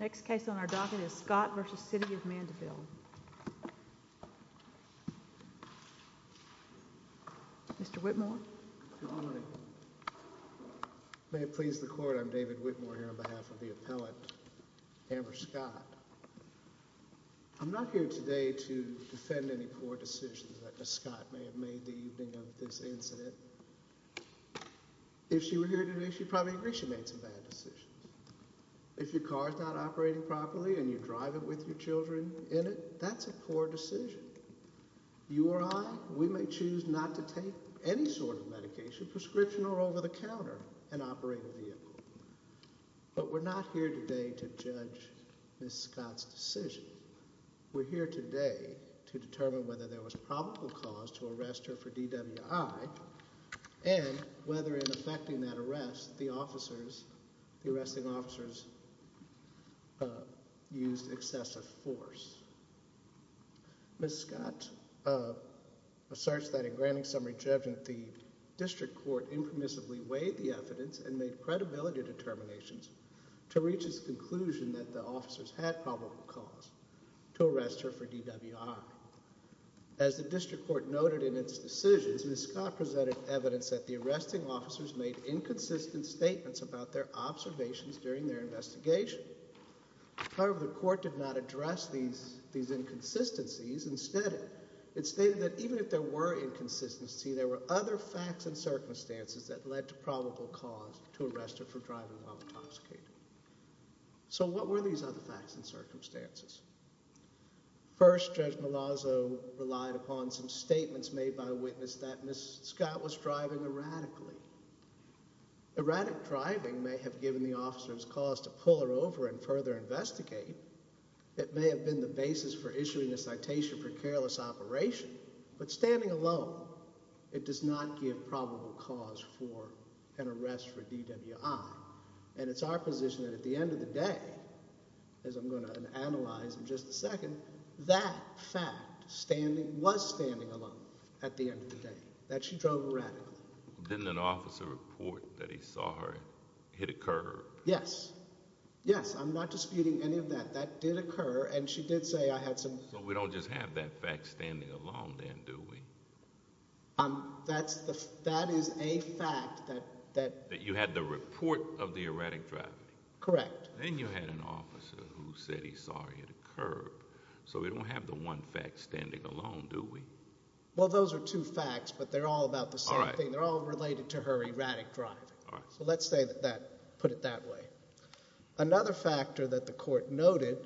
Next case on our docket is Scott v. City of Mandeville Mr. Whitmore Good morning May it please the court, I'm David Whitmore here on behalf of the appellant, Amber Scott I'm not here today to defend any poor decisions that Ms. Scott may have made the evening of this incident If she were here today, she'd probably agree she made some bad decisions If your car's not operating properly and you're driving with your children in it, that's a poor decision You or I, we may choose not to take any sort of medication, prescription or over-the-counter in an operating vehicle But we're not here today to judge Ms. Scott's decision We're here today to determine whether there was probable cause to arrest her for DWI And whether in effecting that arrest, the arresting officers used excessive force Ms. Scott asserts that in granting some rejection, the district court impermissibly weighed the evidence And made credibility determinations to reach its conclusion that the officers had probable cause to arrest her for DWI As the district court noted in its decisions, Ms. Scott presented evidence that the arresting officers made inconsistent statements about their observations during their investigation However, the court did not address these inconsistencies Instead, it stated that even if there were inconsistencies, there were other facts and circumstances that led to probable cause to arrest her for driving while intoxicated So what were these other facts and circumstances? First, Judge Malazzo relied upon some statements made by a witness that Ms. Scott was driving erratically Erratic driving may have given the officers cause to pull her over and further investigate It may have been the basis for issuing a citation for careless operation But standing alone, it does not give probable cause for an arrest for DWI And it's our position that at the end of the day, as I'm going to analyze in just a second That fact was standing alone at the end of the day, that she drove erratically Didn't an officer report that he saw her hit a curb? Yes. Yes, I'm not disputing any of that. That did occur and she did say I had some So we don't just have that fact standing alone then, do we? That is a fact that That you had the report of the erratic driving Correct Then you had an officer who said he saw her hit a curb So we don't have the one fact standing alone, do we? Well, those are two facts, but they're all about the same thing They're all related to her erratic driving So let's put it that way Another factor that the court noted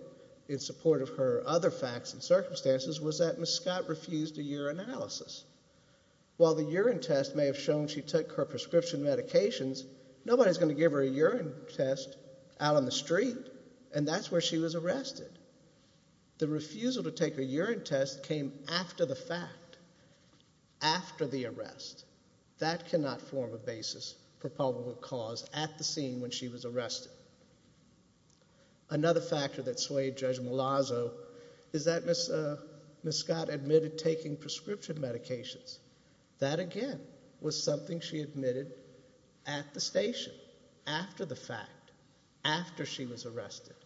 in support of her other facts and circumstances Was that Ms. Scott refused a urinalysis While the urine test may have shown she took her prescription medications Nobody's going to give her a urine test out on the street And that's where she was arrested The refusal to take a urine test came after the fact After the arrest That cannot form a basis for probable cause at the scene when she was arrested Another factor that swayed Judge Malazzo Is that Ms. Scott admitted taking prescription medications That, again, was something she admitted at the station After the fact, after she was arrested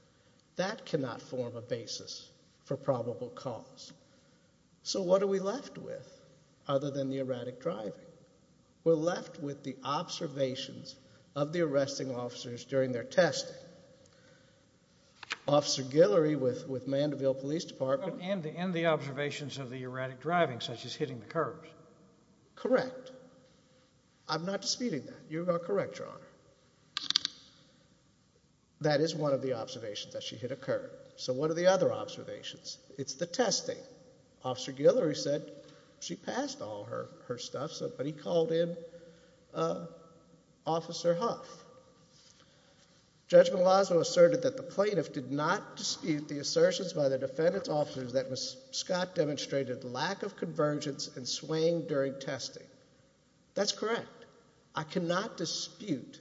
That cannot form a basis for probable cause So what are we left with, other than the erratic driving? We're left with the observations of the arresting officers during their testing Officer Guillory with Mandeville Police Department And the observations of the erratic driving, such as hitting the curbs Correct I'm not disputing that. You are correct, Your Honor That is one of the observations, that she hit a curb So what are the other observations? It's the testing Officer Guillory said she passed all her stuff But he called in Officer Huff Judge Malazzo asserted that the plaintiff did not dispute the assertions by the defendant's officers That Ms. Scott demonstrated lack of convergence and swaying during testing That's correct I cannot dispute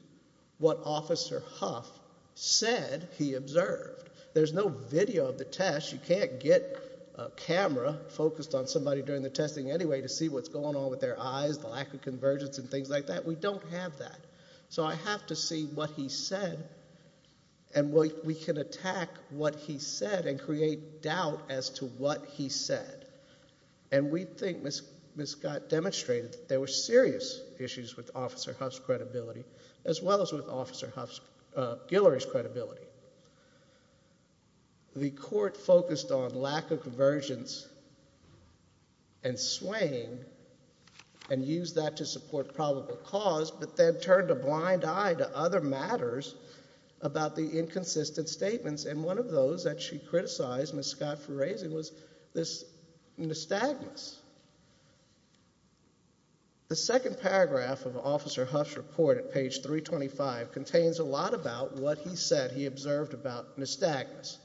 what Officer Huff said he observed There's no video of the test You can't get a camera focused on somebody during the testing anyway To see what's going on with their eyes, the lack of convergence and things like that We don't have that So I have to see what he said And we can attack what he said and create doubt as to what he said And we think Ms. Scott demonstrated that there were serious issues with Officer Huff's credibility As well as with Officer Guillory's credibility The court focused on lack of convergence and swaying And used that to support probable cause But then turned a blind eye to other matters about the inconsistent statements And one of those that she criticized Ms. Scott for raising was this nystagmus The second paragraph of Officer Huff's report at page 325 Contains a lot about what he said he observed about nystagmus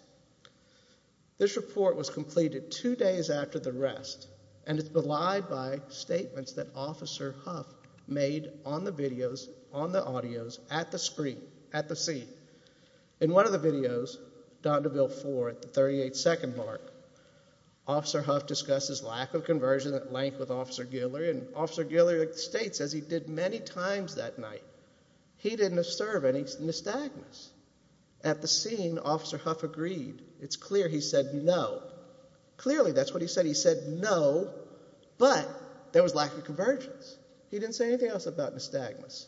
This report was completed two days after the arrest And it's belied by statements that Officer Huff made on the videos On the audios, at the screen, at the scene In one of the videos, Dondeville 4, at the 38 second mark Officer Huff discussed his lack of conversion at length with Officer Guillory And Officer Guillory states, as he did many times that night He didn't observe any nystagmus At the scene Officer Huff agreed, it's clear he said no Clearly that's what he said, he said no But there was lack of convergence He didn't say anything else about nystagmus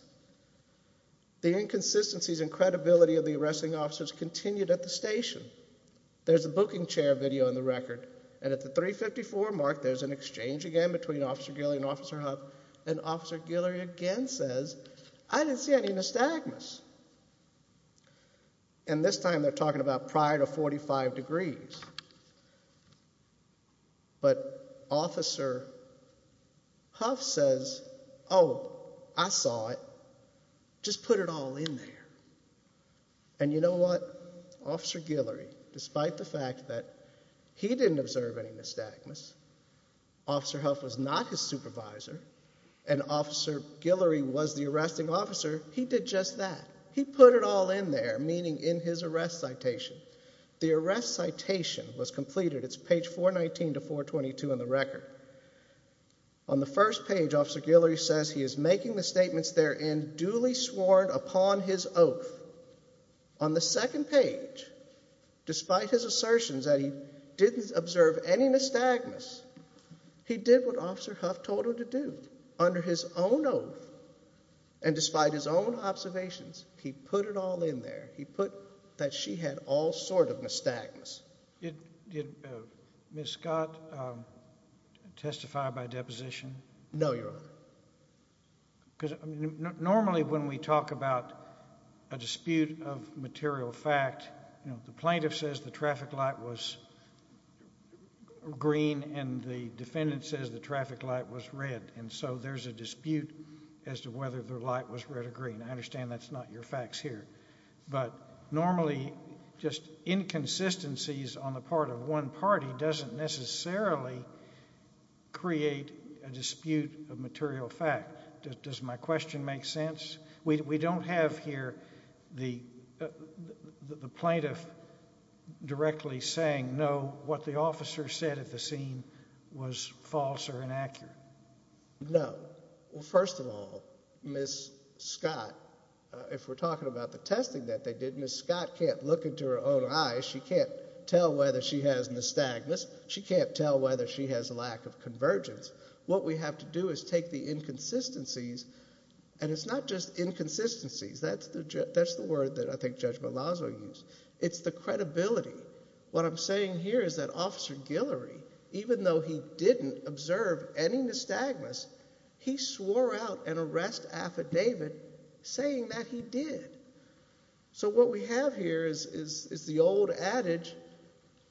The inconsistencies in credibility of the arresting officers continued at the station There's a booking chair video in the record And at the 354 mark there's an exchange again between Officer Guillory and Officer Huff And Officer Guillory again says, I didn't see any nystagmus And this time they're talking about prior to 45 degrees But Officer Huff says, oh, I saw it, just put it all in there And you know what? Officer Guillory, despite the fact that he didn't observe any nystagmus Officer Huff was not his supervisor And Officer Guillory was the arresting officer He did just that, he put it all in there, meaning in his arrest citation The arrest citation was completed, it's page 419 to 422 in the record On the first page Officer Guillory says he is making the statements therein duly sworn upon his oath On the second page, despite his assertions that he didn't observe any nystagmus He did what Officer Huff told him to do, under his own oath And despite his own observations, he put it all in there He put that she had all sort of nystagmus Did Ms. Scott testify by deposition? No, Your Honor Normally when we talk about a dispute of material fact The plaintiff says the traffic light was green And the defendant says the traffic light was red And so there's a dispute as to whether the light was red or green I understand that's not your facts here But normally just inconsistencies on the part of one party Doesn't necessarily create a dispute of material fact Does my question make sense? We don't have here the plaintiff directly saying no What the officer said at the scene was false or inaccurate No, well first of all, Ms. Scott If we're talking about the testing that they did Ms. Scott can't look into her own eyes She can't tell whether she has nystagmus She can't tell whether she has a lack of convergence What we have to do is take the inconsistencies And it's not just inconsistencies That's the word that I think Judge Malazzo used It's the credibility What I'm saying here is that Officer Guillory Even though he didn't observe any nystagmus He swore out an arrest affidavit saying that he did So what we have here is the old adage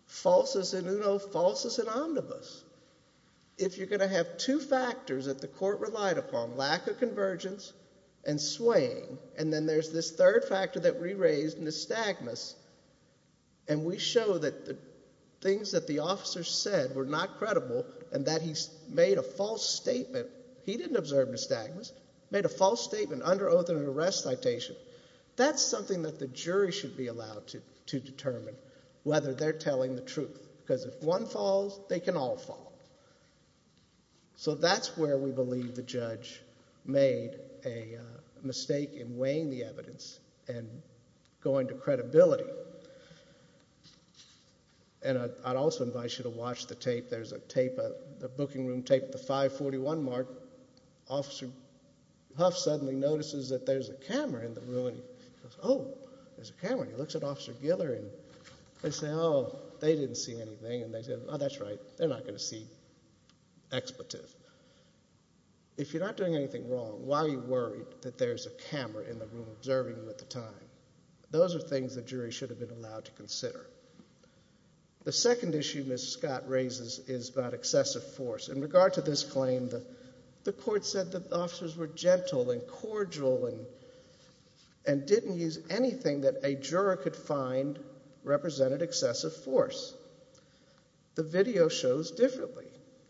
Falsus in uno, falsus in omnibus If you're going to have two factors that the court relied upon Lack of convergence and swaying And then there's this third factor that we raised, nystagmus And we show that the things that the officer said Were not credible and that he made a false statement He didn't observe nystagmus Made a false statement under oath in an arrest citation That's something that the jury should be allowed to determine Whether they're telling the truth Because if one falls, they can all fall So that's where we believe the judge made a mistake In weighing the evidence and going to credibility And I'd also invite you to watch the tape There's a tape, a booking room tape The 541 mark Officer Huff suddenly notices that there's a camera in the room And he goes, oh, there's a camera And he looks at Officer Guillory And they say, oh, they didn't see anything And they said, oh, that's right They're not going to see expletive If you're not doing anything wrong Why are you worried that there's a camera in the room Observing you at the time? Those are things the jury should have been allowed to consider The second issue Ms. Scott raises is about excessive force In regard to this claim, the court said The officers were gentle and cordial And didn't use anything that a juror could find Represented excessive force The video shows differently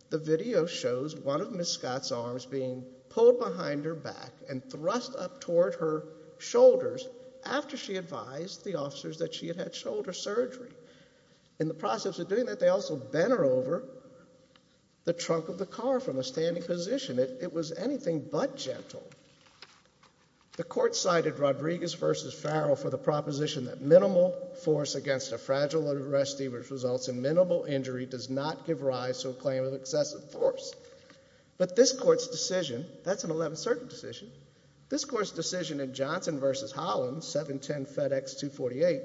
The video shows one of Ms. Scott's arms being pulled behind her back And thrust up toward her shoulders After she advised the officers that she had had shoulder surgery In the process of doing that, they also bent her over The trunk of the car from a standing position It was anything but gentle The court cited Rodriguez v. Farrell for the proposition That minimal force against a fragile arrestee Which results in minimal injury Does not give rise to a claim of excessive force But this court's decision That's an 11th Circuit decision This court's decision in Johnson v. Holland, 710 FedEx 248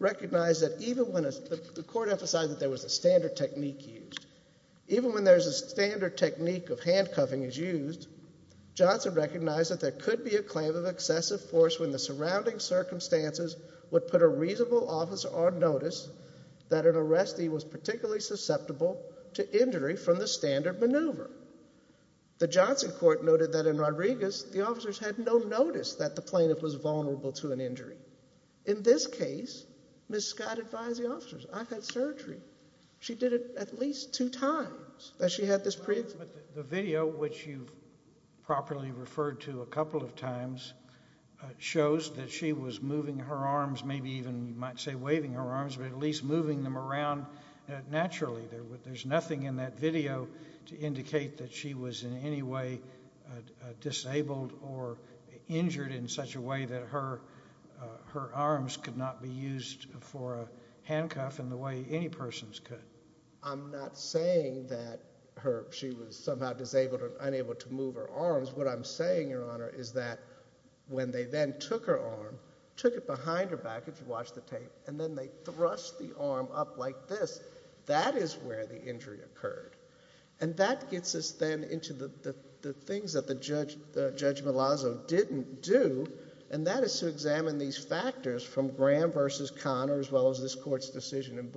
Recognized that even when The court emphasized that there was a standard technique used Even when there's a standard technique of handcuffing is used Johnson recognized that there could be a claim of excessive force When the surrounding circumstances Would put a reasonable officer on notice That an arrestee was particularly susceptible To injury from the standard maneuver The Johnson court noted that in Rodriguez The officers had no notice that the plaintiff was vulnerable to an injury In this case, Ms. Scott advised the officers I've had surgery She did it at least two times The video, which you've properly referred to a couple of times Shows that she was moving her arms Maybe even, you might say, waving her arms But at least moving them around naturally There's nothing in that video To indicate that she was in any way Disabled or injured in such a way That her arms could not be used For a handcuff in the way any persons could I'm not saying that she was somehow disabled Or unable to move her arms What I'm saying, Your Honor, is that When they then took her arm Took it behind her back, if you watch the tape And then they thrust the arm up like this That is where the injury occurred And that gets us then into the things That Judge Malazzo didn't do And that is to examine these factors From Graham v. Conner as well as this court's decision In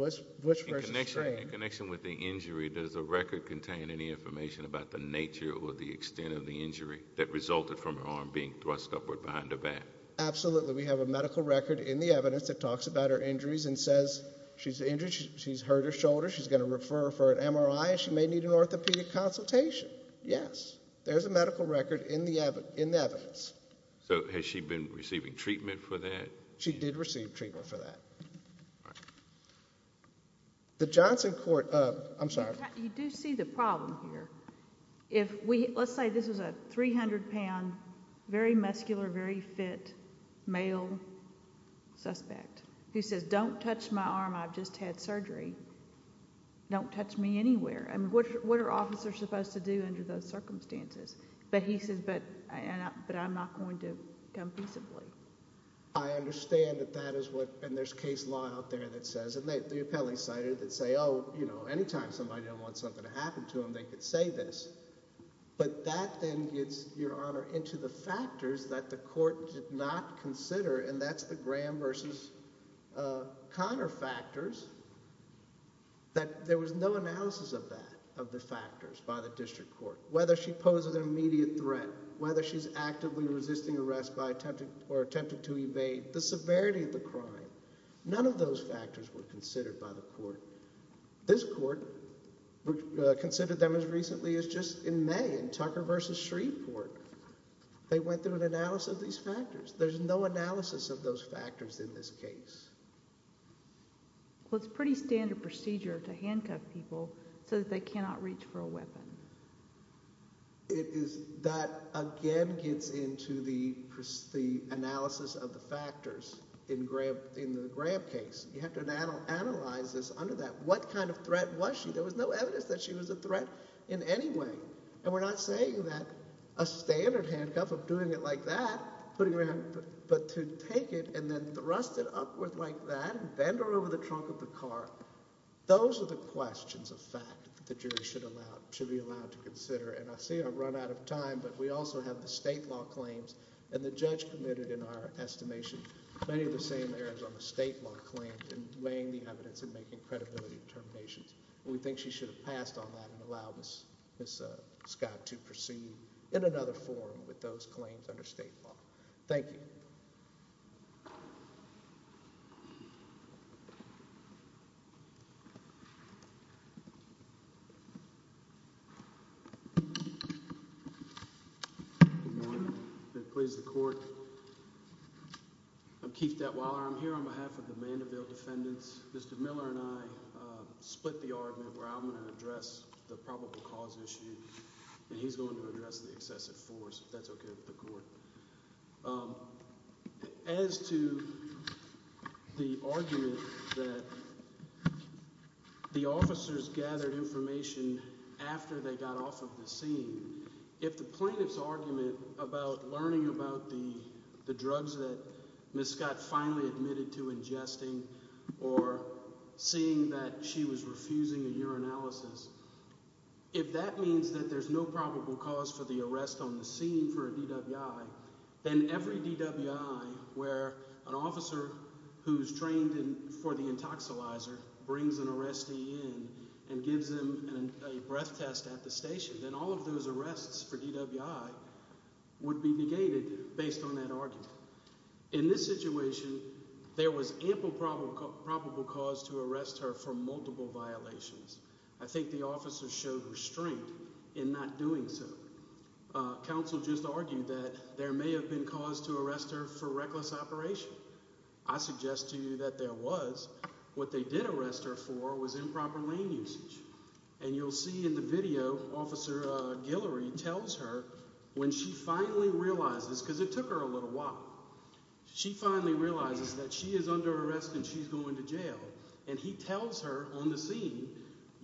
connection with the injury Does the record contain any information About the nature or the extent of the injury That resulted from her arm being thrust upward behind her back? Absolutely, we have a medical record in the evidence That talks about her injuries and says She's injured, she's hurt her shoulder She's going to refer for an MRI And she may need an orthopedic consultation Yes, there's a medical record in the evidence So has she been receiving treatment for that? She did receive treatment for that The Johnson Court... I'm sorry You do see the problem here Let's say this is a 300-pound, very muscular, very fit Male suspect Who says, don't touch my arm, I've just had surgery Don't touch me anywhere What are officers supposed to do under those circumstances? But he says, but I'm not going to come peaceably I understand that that is what... And there's case law out there that says And the appellees cited that say Oh, you know, any time somebody wants something to happen to them They could say this But that then gets, Your Honor, into the factors That the court did not consider And that's the Graham v. Conner factors That there was no analysis of that Of the factors by the district court Whether she poses an immediate threat Whether she's actively resisting arrest Or attempted to evade The severity of the crime None of those factors were considered by the court This court considered them as recently as just in May In Tucker v. Shreveport They went through an analysis of these factors There's no analysis of those factors in this case Well, it's pretty standard procedure to handcuff people So that they cannot reach for a weapon That again gets into the analysis of the factors In the Graham case You have to analyze this under that What kind of threat was she? There was no evidence that she was a threat in any way And we're not saying that A standard handcuff of doing it like that Putting her hand... But to take it and then thrust it upward like that And bend her over the trunk of the car Those are the questions of fact That the jury should be allowed to consider And I see I've run out of time But we also have the state law claims And the judge committed in our estimation Many of the same errors on the state law claims In weighing the evidence and making credibility determinations We think she should have passed on that And allowed Ms. Scott to proceed in another forum With those claims under state law Thank you Good morning Please the court I'm Keith Detweiler I'm here on behalf of the Mandeville defendants Mr. Miller and I split the argument Where I'm going to address the probable cause issue And he's going to address the excessive force If that's okay with the court As to the argument that The officers gathered information After they got off of the scene If the plaintiff's argument about learning about the drugs That Ms. Scott finally admitted to ingesting Or seeing that she was refusing a urinalysis If that means that there's no probable cause For the arrest on the scene for a DWI Then every DWI where an officer Who's trained for the intoxilizer Brings an arrestee in And gives them a breath test at the station Then all of those arrests for DWI Would be negated based on that argument In this situation There was ample probable cause To arrest her for multiple violations I think the officers showed restraint In not doing so Counsel just argued that There may have been cause to arrest her For reckless operation I suggest to you that there was What they did arrest her for Was improper lane usage And you'll see in the video Officer Guillory tells her When she finally realizes Because it took her a little while She finally realizes that she is under arrest And she's going to jail And he tells her on the scene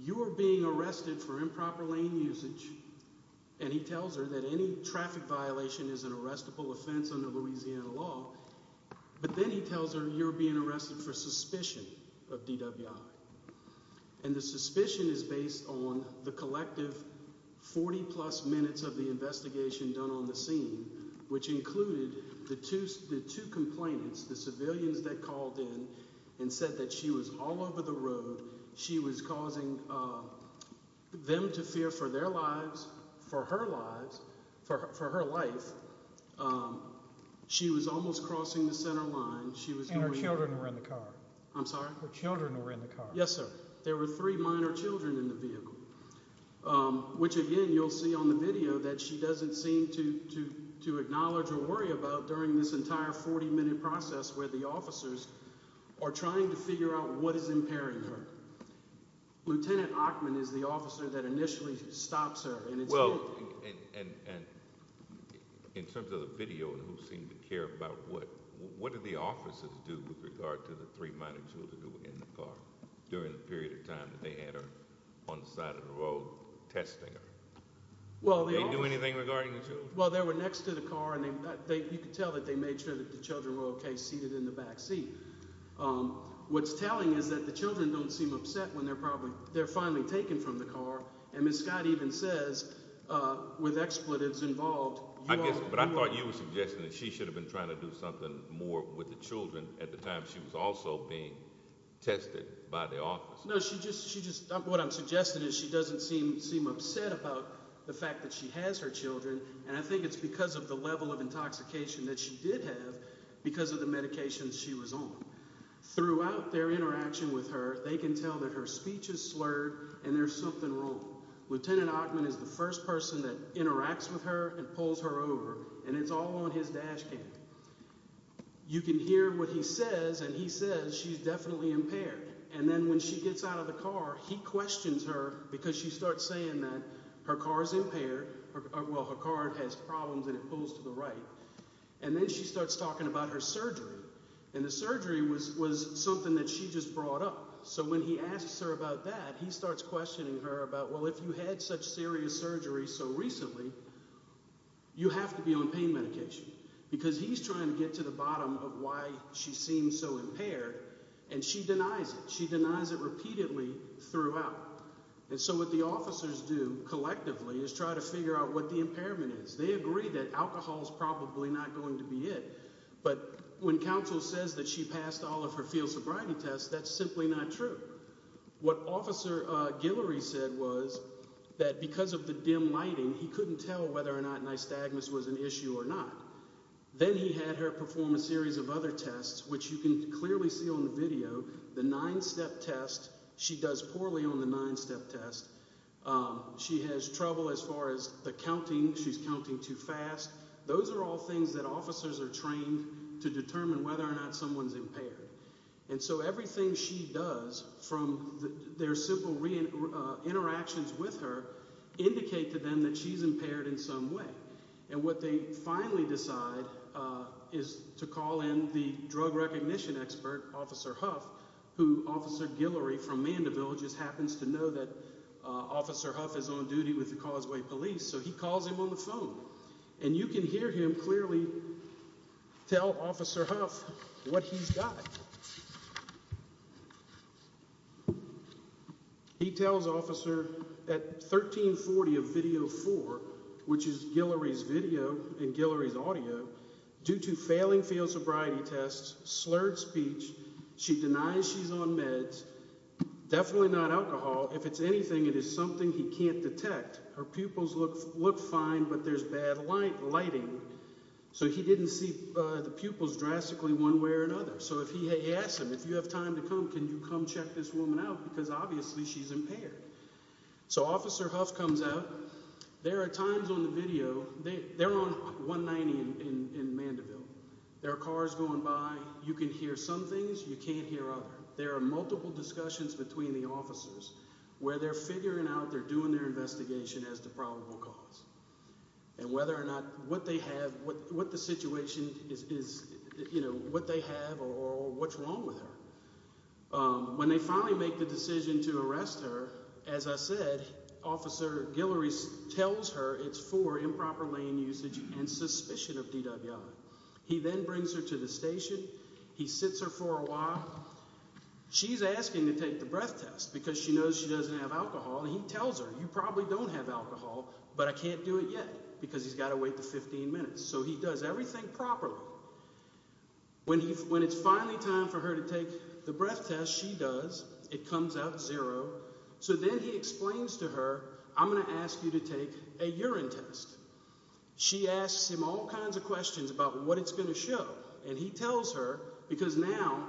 You are being arrested for improper lane usage And he tells her that any traffic violation Is an arrestable offense under Louisiana law But then he tells her You're being arrested for suspicion of DWI And the suspicion is based on The collective 40 plus minutes Of the investigation done on the scene Which included the two complainants The civilians that called in And said that she was all over the road She was causing them to fear for their lives For her lives For her life She was almost crossing the center line And her children were in the car I'm sorry? Her children were in the car Yes sir There were three minor children in the vehicle Which again you'll see on the video That she doesn't seem to Acknowledge or worry about During this entire 40 minute process Where the officers are trying to figure out What is impairing her Lieutenant Ackman is the officer That initially stops her Well and In terms of the video Who seemed to care about what What did the officers do with regard to The three minor children who were in the car During the period of time that they had her On the side of the road Testing her Well the officers Did they do anything regarding the children? Well they were next to the car And you could tell that they made sure That the children were ok Seated in the back seat What's telling is that the children Don't seem upset when they're probably They're finally taken from the car And Ms. Scott even says With expletives involved But I thought you were suggesting That she should have been trying to do something more With the children at the time she was also being Tested by the officers No she just What I'm suggesting is she doesn't seem Upset about the fact that she has her children And I think it's because of the level of Intoxication that she did have Because of the medications she was on Throughout their interaction with her They can tell that her speech is slurred And there's something wrong Lieutenant Ackman is the first person that Interacts with her and pulls her over And it's all on his dash cam You can hear what he says And he says she's definitely impaired And then when she gets out of the car He questions her Because she starts saying that her car is impaired Well her car has problems And it pulls to the right And then she starts talking about her surgery And the surgery was Something that she just brought up So when he asks her about that He starts questioning her about Well if you had such serious surgery so recently You have to be on pain medication Because he's trying to get to the bottom Of why she seems so impaired And she denies it She denies it repeatedly Throughout And so what the officers do collectively Is try to figure out what the impairment is They agree that alcohol is probably Not going to be it But when counsel says that she passed All of her field sobriety tests That's simply not true What officer Guillory said was That because of the dim lighting He couldn't tell whether or not nystagmus Was an issue or not Then he had her perform a series of other tests Which you can clearly see on the video The nine step test She does poorly on the nine step test She has trouble As far as the counting She's counting too fast Those are all things that officers are trained To determine whether or not someone's impaired And so everything she does From their simple Interactions with her Indicate to them That she's impaired in some way And what they finally decide Is to call in The drug recognition expert Officer Huff Who officer Guillory from Mandeville Just happens to know that Officer Huff is on duty with the Causeway Police So he calls him on the phone And you can hear him clearly Tell officer Huff What he's got He tells officer At 1340 of video 4 Which is Guillory's video And Guillory's audio Due to failing field sobriety tests Slurred speech She denies she's on meds Definitely not alcohol If it's anything It is something he can't detect Her pupils look fine But there's bad lighting So he didn't see the pupils drastically One way or another So he asks him If you have time to come Can you come check this woman out Because obviously she's impaired So officer Huff comes out There are times on the video They're on 190 in Mandeville There are cars going by You can hear some things You can't hear others There are multiple discussions between the officers Where they're figuring out They're doing their investigation As to probable cause And whether or not What they have Or what's wrong with her When they finally make the decision To arrest her As I said Officer Guillory tells her It's for improper lane usage And suspicion of DWI He then brings her to the station He sits her for a while She's asking to take the breath test Because she knows she doesn't have alcohol And he tells her You probably don't have alcohol But I can't do it yet Because he's got to wait the 15 minutes So he does everything properly When it's finally time for her to take the breath test She does It comes out zero So then he explains to her I'm going to ask you to take a urine test She asks him all kinds of questions About what it's going to show And he tells her Because now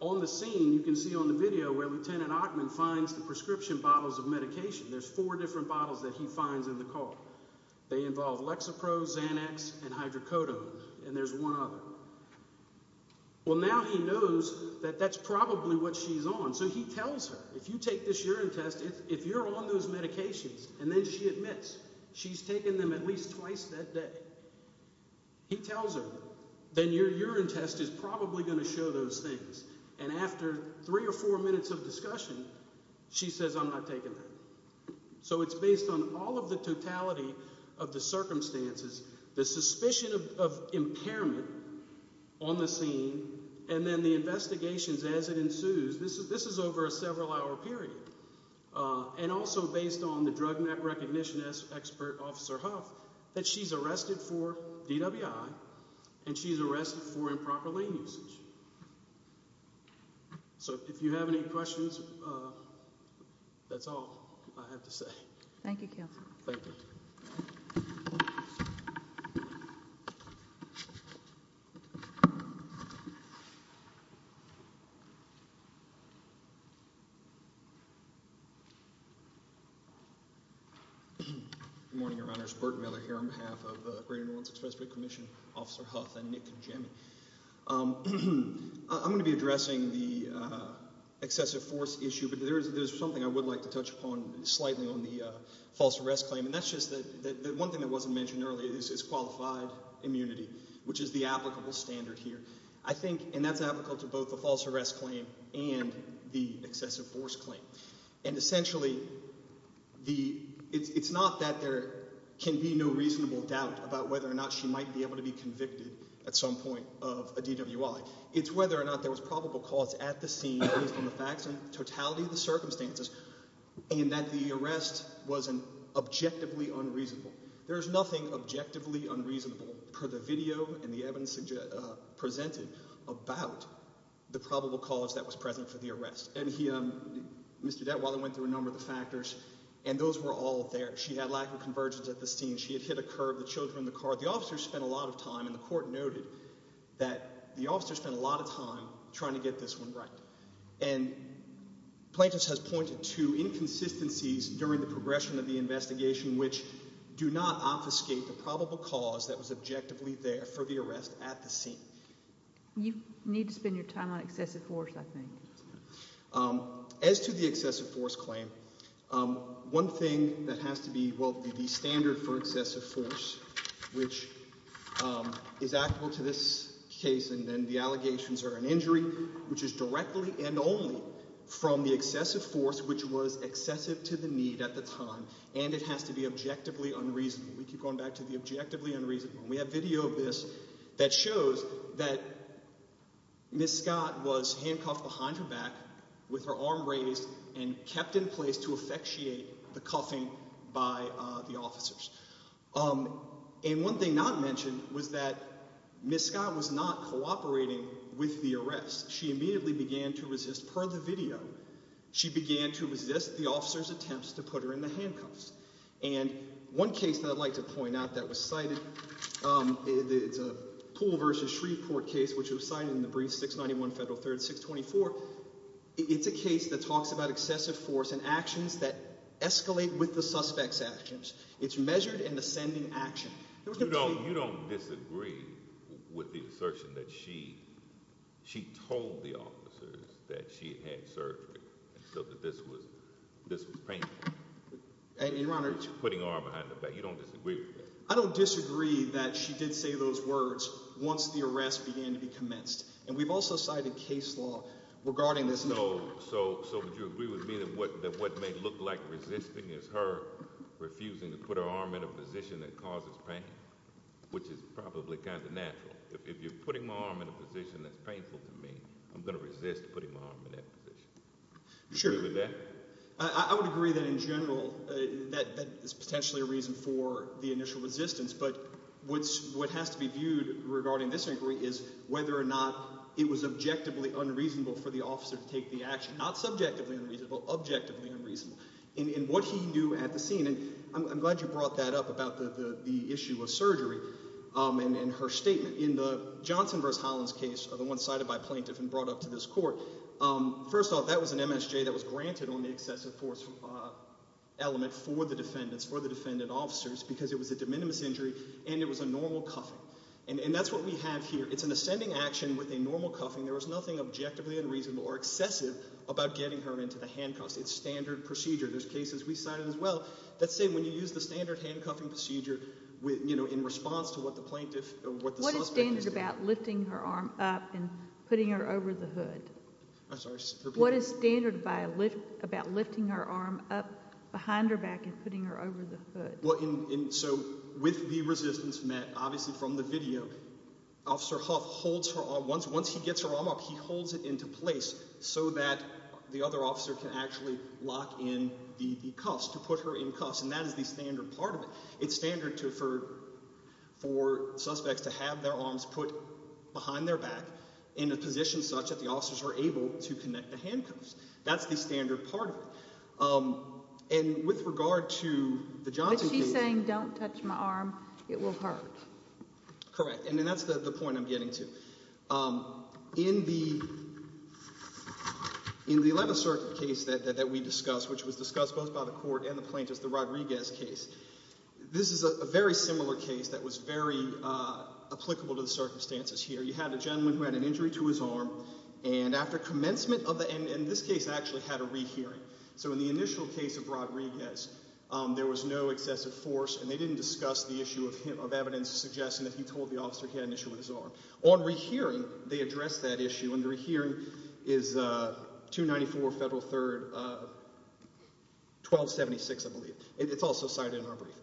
on the scene You can see on the video Where Lieutenant Ackman finds the prescription bottles of medication There's four different bottles That he finds in the car They involve Lexapro, Xanax, and Hydrocodone And there's one other Well now he knows That that's probably what she's on So he tells her If you take this urine test If you're on those medications And then she admits She's taken them at least twice that day He tells her Then your urine test is probably going to show those things And after three or four minutes of discussion She says I'm not taking that So it's based on all of the totality Of the circumstances The suspicion of impairment On the scene And then the investigations as it ensues This is over a several hour period And also based on The drug map recognition expert Officer Huff That she's arrested for DWI And she's arrested for improper lane usage So if you have any questions That's all I have to say Thank you Counselor Thank you Good morning Your Honors Bert Miller here on behalf of Greater New Orleans Expressway Commission Officer Huff And Nick and Jim I'm going to be addressing the Excessive force issue But there's something I would like to touch upon Slightly on the false arrest claim And that's just The one thing that wasn't mentioned earlier Is qualified immunity Which is the applicable standard here I think, and that's applicable to both the false arrest claim And the excessive force claim And essentially It's not that there Can be no reasonable doubt About whether or not she might be able to be convicted At some point of a DWI It's whether or not there was probable cause At the scene based on the facts And totality of the circumstances And that the arrest Wasn't objectively unreasonable There's nothing objectively unreasonable Per the video and the evidence Presented about The probable cause that was present For the arrest And Mr. Detwiler went through a number of factors And those were all there She had lack of convergence at the scene She had hit a curb, the children in the car The officers spent a lot of time, and the court noted That the officers spent a lot of time Trying to get this one right And Plaintiff's has pointed to Inconsistencies during the progression Of the investigation which Do not obfuscate the probable cause That was objectively there for the arrest At the scene You need to spend your time on excessive force I think As to the excessive force claim One thing that has to be The standard for excessive force Which Is applicable to this case And then the allegations are an injury Which is directly and only From the excessive force Which was excessive to the need at the time And it has to be objectively unreasonable We keep going back to the objectively unreasonable We have video of this That shows that Ms. Scott was handcuffed behind her back With her arm raised And kept in place to Effectuate the cuffing by the officers And one thing not mentioned Was that Ms. Scott was not cooperating With the arrest Per the video She began to resist the officers attempts To put her in the handcuffs And one case that I'd like to point out That was cited It's a Poole vs. Shreveport case Which was cited in the brief 691 Federal 3rd 624 It's a case that talks about excessive force And actions that escalate With the suspect's actions It's measured in ascending action You don't disagree With the assertion that she She told the officers That she had surgery So that this was painful Putting her arm behind her back You don't disagree with that I don't disagree that she did say those words Once the arrest began to be commenced And we've also cited case law Regarding this So would you agree with me That what may look like resisting Is her refusing to put her arm in a position That causes pain Which is probably kind of natural If you're putting my arm in a position That's painful to me I'm going to resist putting my arm in that position Sure I would agree that in general That is potentially a reason for The initial resistance But what has to be viewed regarding this Is whether or not It was objectively unreasonable For the officer to take the action Not subjectively unreasonable Objectively unreasonable In what he knew at the scene And I'm glad you brought that up About the issue of surgery And her statement In the Johnson v. Hollins case The one cited by plaintiff and brought up to this court First off, that was an MSJ That was granted on the excessive force Element for the defendants For the defendant officers Because it was a de minimis injury And it was a normal cuffing And that's what we have here It's an ascending action with a normal cuffing There was nothing objectively unreasonable or excessive About getting her into the handcuffs It's standard procedure There's cases we cited as well Let's say when you use the standard handcuffing procedure In response to what the plaintiff What the suspect is doing What is standard about lifting her arm up And putting her over the hood? I'm sorry, repeat What is standard about lifting her arm up Behind her back and putting her over the hood? So with the resistance Obviously from the video Officer Huff holds her arm Once he gets her arm up He holds it into place So that the other officer can actually Lock in the cuffs To put her in cuffs And that is the standard part of it It's standard for suspects to have their arms Put behind their back In a position such that the officers are able To connect the handcuffs That's the standard part of it And with regard to the Johnson case But she's saying don't touch my arm It will hurt Correct, and that's the point I'm getting to In the In the 11th circuit case that we discussed Which was discussed both by the court and the plaintiff The Rodriguez case This is a very similar case that was very Applicable to the circumstances here You had a gentleman who had an injury to his arm And after commencement And in this case actually had a rehearing So in the initial case of Rodriguez There was no excessive force And they didn't discuss the issue of Evidence suggesting that he told the officer He had an issue with his arm On rehearing they addressed that issue And the rehearing is 294 Federal 3rd 1276 I believe It's also cited in our brief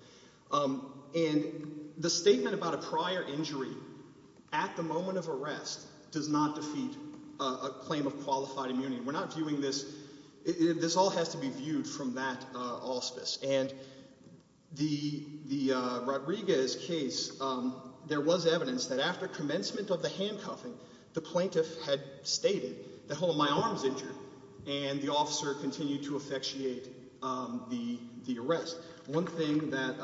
And the statement About a prior injury At the moment of arrest Does not defeat a claim of Qualified immunity We're not viewing this, this all has to be viewed From that auspice And the Rodriguez case There was evidence that after commencement Of the handcuffing the plaintiff Had stated that hold on my arm's Injured and the officer continued To effectuate The arrest One thing that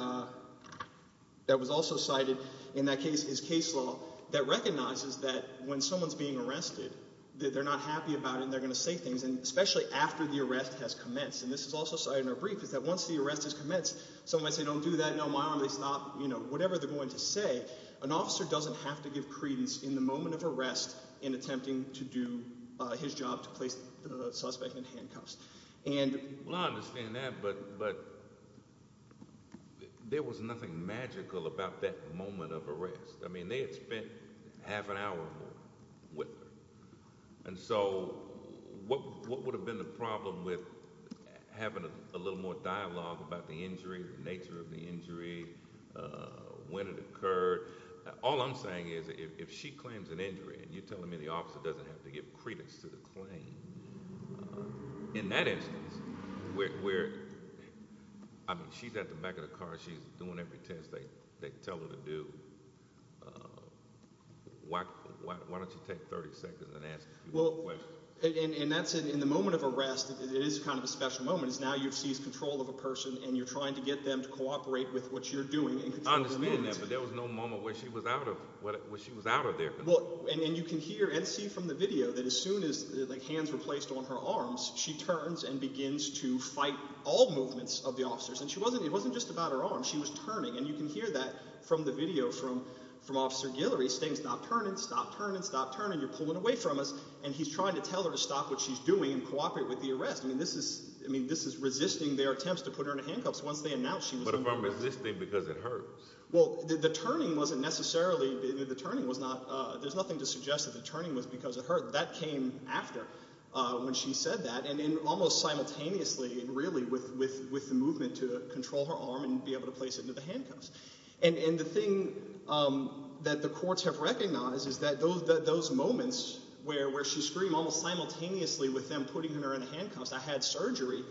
Was also cited in that case Is case law that recognizes that When someone's being arrested That they're not happy about it and they're going to say things Especially after the arrest has commenced And this is also cited in our brief Is that once the arrest has commenced Someone might say don't do that no my arm is not You know whatever they're going to say An officer doesn't have to give credence In the moment of arrest in attempting to Do his job to place The suspect in handcuffs And well I understand that but There was nothing magical about that Moment of arrest I mean they had spent Half an hour With her and so What would have been the problem With having a Little more dialogue about the injury The nature of the injury When it occurred All I'm saying is if she claims An injury and you're telling me the officer doesn't have to Give credence to the claim In that instance Where I mean she's at the back of the car She's doing every test they tell her to do Why don't you take 30 seconds and ask And that's in the moment of arrest It is kind of a special moment is now you've Permitted them to cooperate with what you're doing I understand that but there was no moment When she was out of there And you can hear and see from the video That as soon as like hands were placed On her arms she turns and begins To fight all movements Of the officers and it wasn't just about her arm She was turning and you can hear that From the video from officer Guillory Saying stop turning stop turning stop turning You're pulling away from us and he's trying to Tell her to stop what she's doing and cooperate With the arrest I mean this is Resisting their attempts to put her in handcuffs But if I'm resisting because it hurts Well the turning wasn't Necessarily the turning was not There's nothing to suggest that the turning was because It hurt that came after When she said that and in almost Simultaneously and really with The movement to control her arm And be able to place it into the handcuffs And the thing That the courts have recognized is that Those moments where she screamed Almost simultaneously with them putting her In the handcuffs I had surgery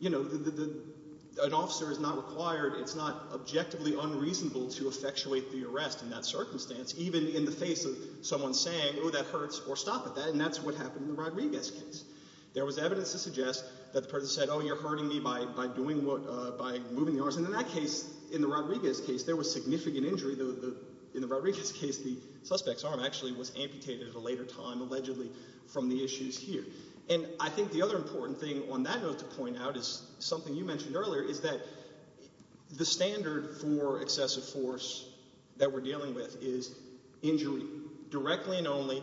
You know the the the an officer Is not required it's not objectively Unreasonable to effectuate the arrest In that circumstance even in the face of Someone saying oh that hurts or stop At that and that's what happened in the Rodriguez case There was evidence to suggest that The person said oh you're hurting me by by doing What uh by moving the arms and in that case In the Rodriguez case there was significant Injury the the in the Rodriguez case The suspect's arm actually was amputated At a later time allegedly from the Injury and I think the other Important thing on that note to point out is Something you mentioned earlier is that The standard for Excessive force that we're dealing With is injury Directly and only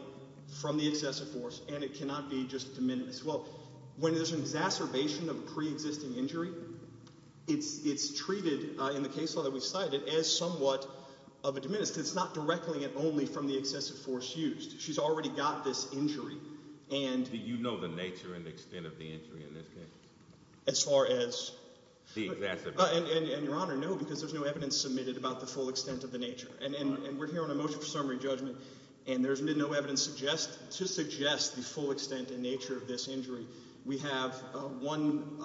from the excessive Force and it cannot be just diminished Well when there's an exacerbation Of pre-existing injury It's it's treated in the Case law that we cited as somewhat Of a diminished it's not directly and only From the excessive force used she's already Got this injury and Do you know the nature and extent of the injury In this case as far as The excessive Your honor no because there's no evidence submitted About the full extent of the nature and and We're hearing a motion for summary judgment and There's been no evidence suggest to suggest The full extent and nature of this injury We have one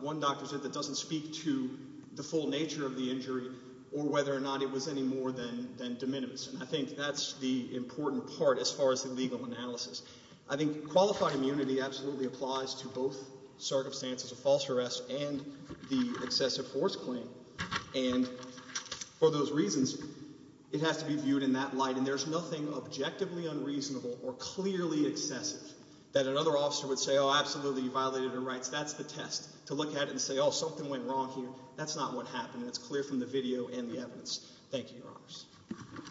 One doctor said that doesn't speak To the full nature of the injury Or whether or not it was any more Than than de minimis and I think that's The important part as far as the legal Analysis I think qualified Immunity absolutely applies to both Circumstances of false arrest and The excessive force claim And for those Reasons it has to be viewed In that light and there's nothing objectively Unreasonable or clearly excessive That another officer would say oh absolutely Violated her rights that's the test To look at it and say oh something went wrong here That's not what happened it's clear from the video And the evidence thank you your honors Thank you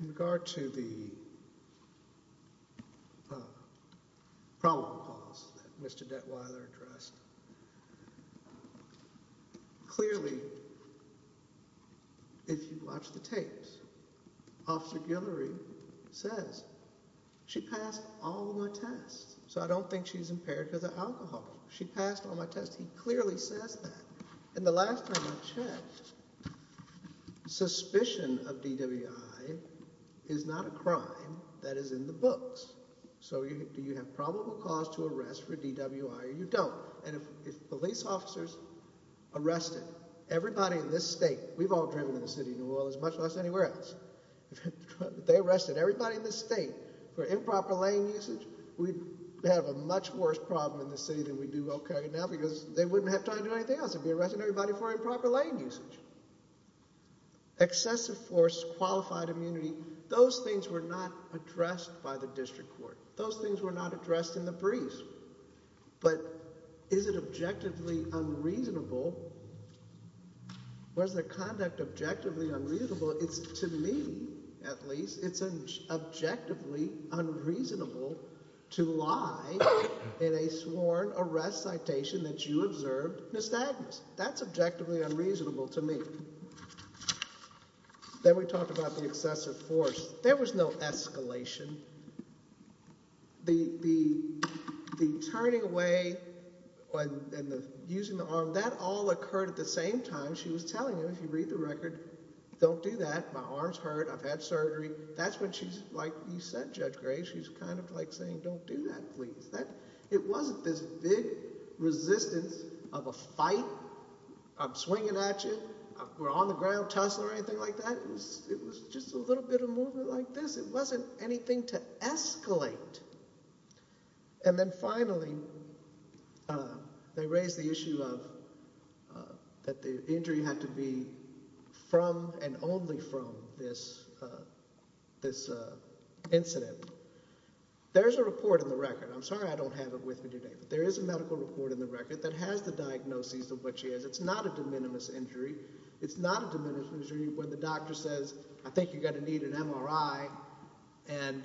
In regard to the Problem Mr. Clearly If you watch The tapes Officer Says She passed all my tests So I don't think she's impaired She passed all my tests He clearly says that And the last time I checked Suspicion of DWI Is not a crime That is in the books So do you have probable cause to arrest For DWI or you don't And if police officers Arrested everybody in this state We've all driven in the city of New Orleans Much less anywhere else If they arrested everybody in the state For improper lane usage We'd have a much worse problem in the city Than we do okay now because They wouldn't have time to do anything else They'd be arresting everybody for improper lane usage Excessive force Qualified immunity those things were not Addressed by the district court Those things were not addressed in the brief But Is it objectively unreasonable Was the conduct Objectively unreasonable It's to me at least It's objectively unreasonable To lie In a sworn arrest Citation that you observed In a statement that's objectively unreasonable To me Then we talked about the excessive force There was no escalation The The Turning away Using the arm That all occurred at the same time She was telling him if you read the record Don't do that my arm's hurt I've had surgery That's when she's like you said Judge Gray She's kind of like saying don't do that please It wasn't this big Resistance of a fight I'm swinging at you We're on the ground tussling or anything like that It was just a little bit of movement Like this it wasn't anything to Escalate And then finally They raised the issue of That the injury had to be From and only from This This incident There's a report in the record I'm sorry I don't have it with me today But there is a medical report in the record That has the diagnosis of what she has It's not a de minimis injury It's not a de minimis injury when the doctor says I think you're going to need an MRI And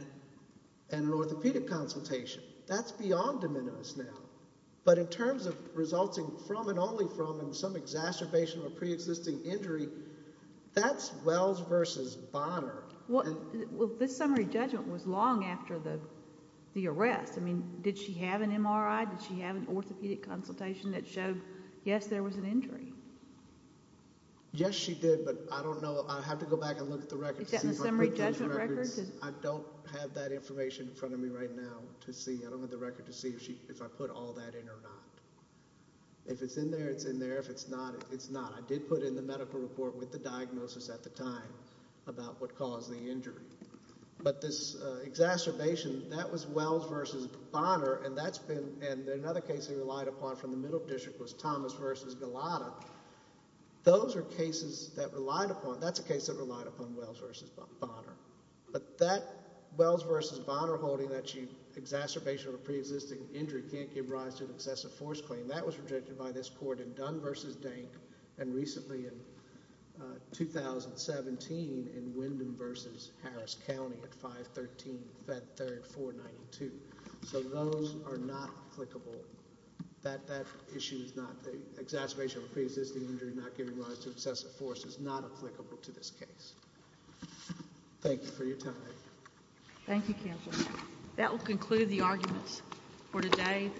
An orthopedic consultation That's beyond de minimis now But in terms of resulting From and only from and some exacerbation Of a pre-existing injury That's Wells versus Bonner Well this summary judgment Was long after the The arrest I mean did she have an MRI Did she have an orthopedic consultation That showed yes there was an injury Yes she did But I don't know I have to go back And look at the record The summary judgment record I don't have that information in front of me right now To see I don't have the record to see If I put all that in or not If it's in there it's in there If it's not it's not I did put in the medical report with the diagnosis at the time About what caused the injury But this exacerbation That was Wells versus Bonner And that's been And another case they relied upon from the middle district Was Thomas versus Gulotta Those are cases that relied upon That's a case that relied upon Wells versus Bonner But that Wells versus Bonner holding that Exacerbation of a pre-existing injury Can't give rise to an excessive force claim That was rejected by this court in Dunn versus Dank And recently in 2017 In Wyndham versus Harris County At 513 Fed Third 492 So those Are not applicable That issue is not Exacerbation of a pre-existing injury Not giving rise to excessive force Is not applicable to this case Thank you for your time Thank you counsel That will conclude the arguments For today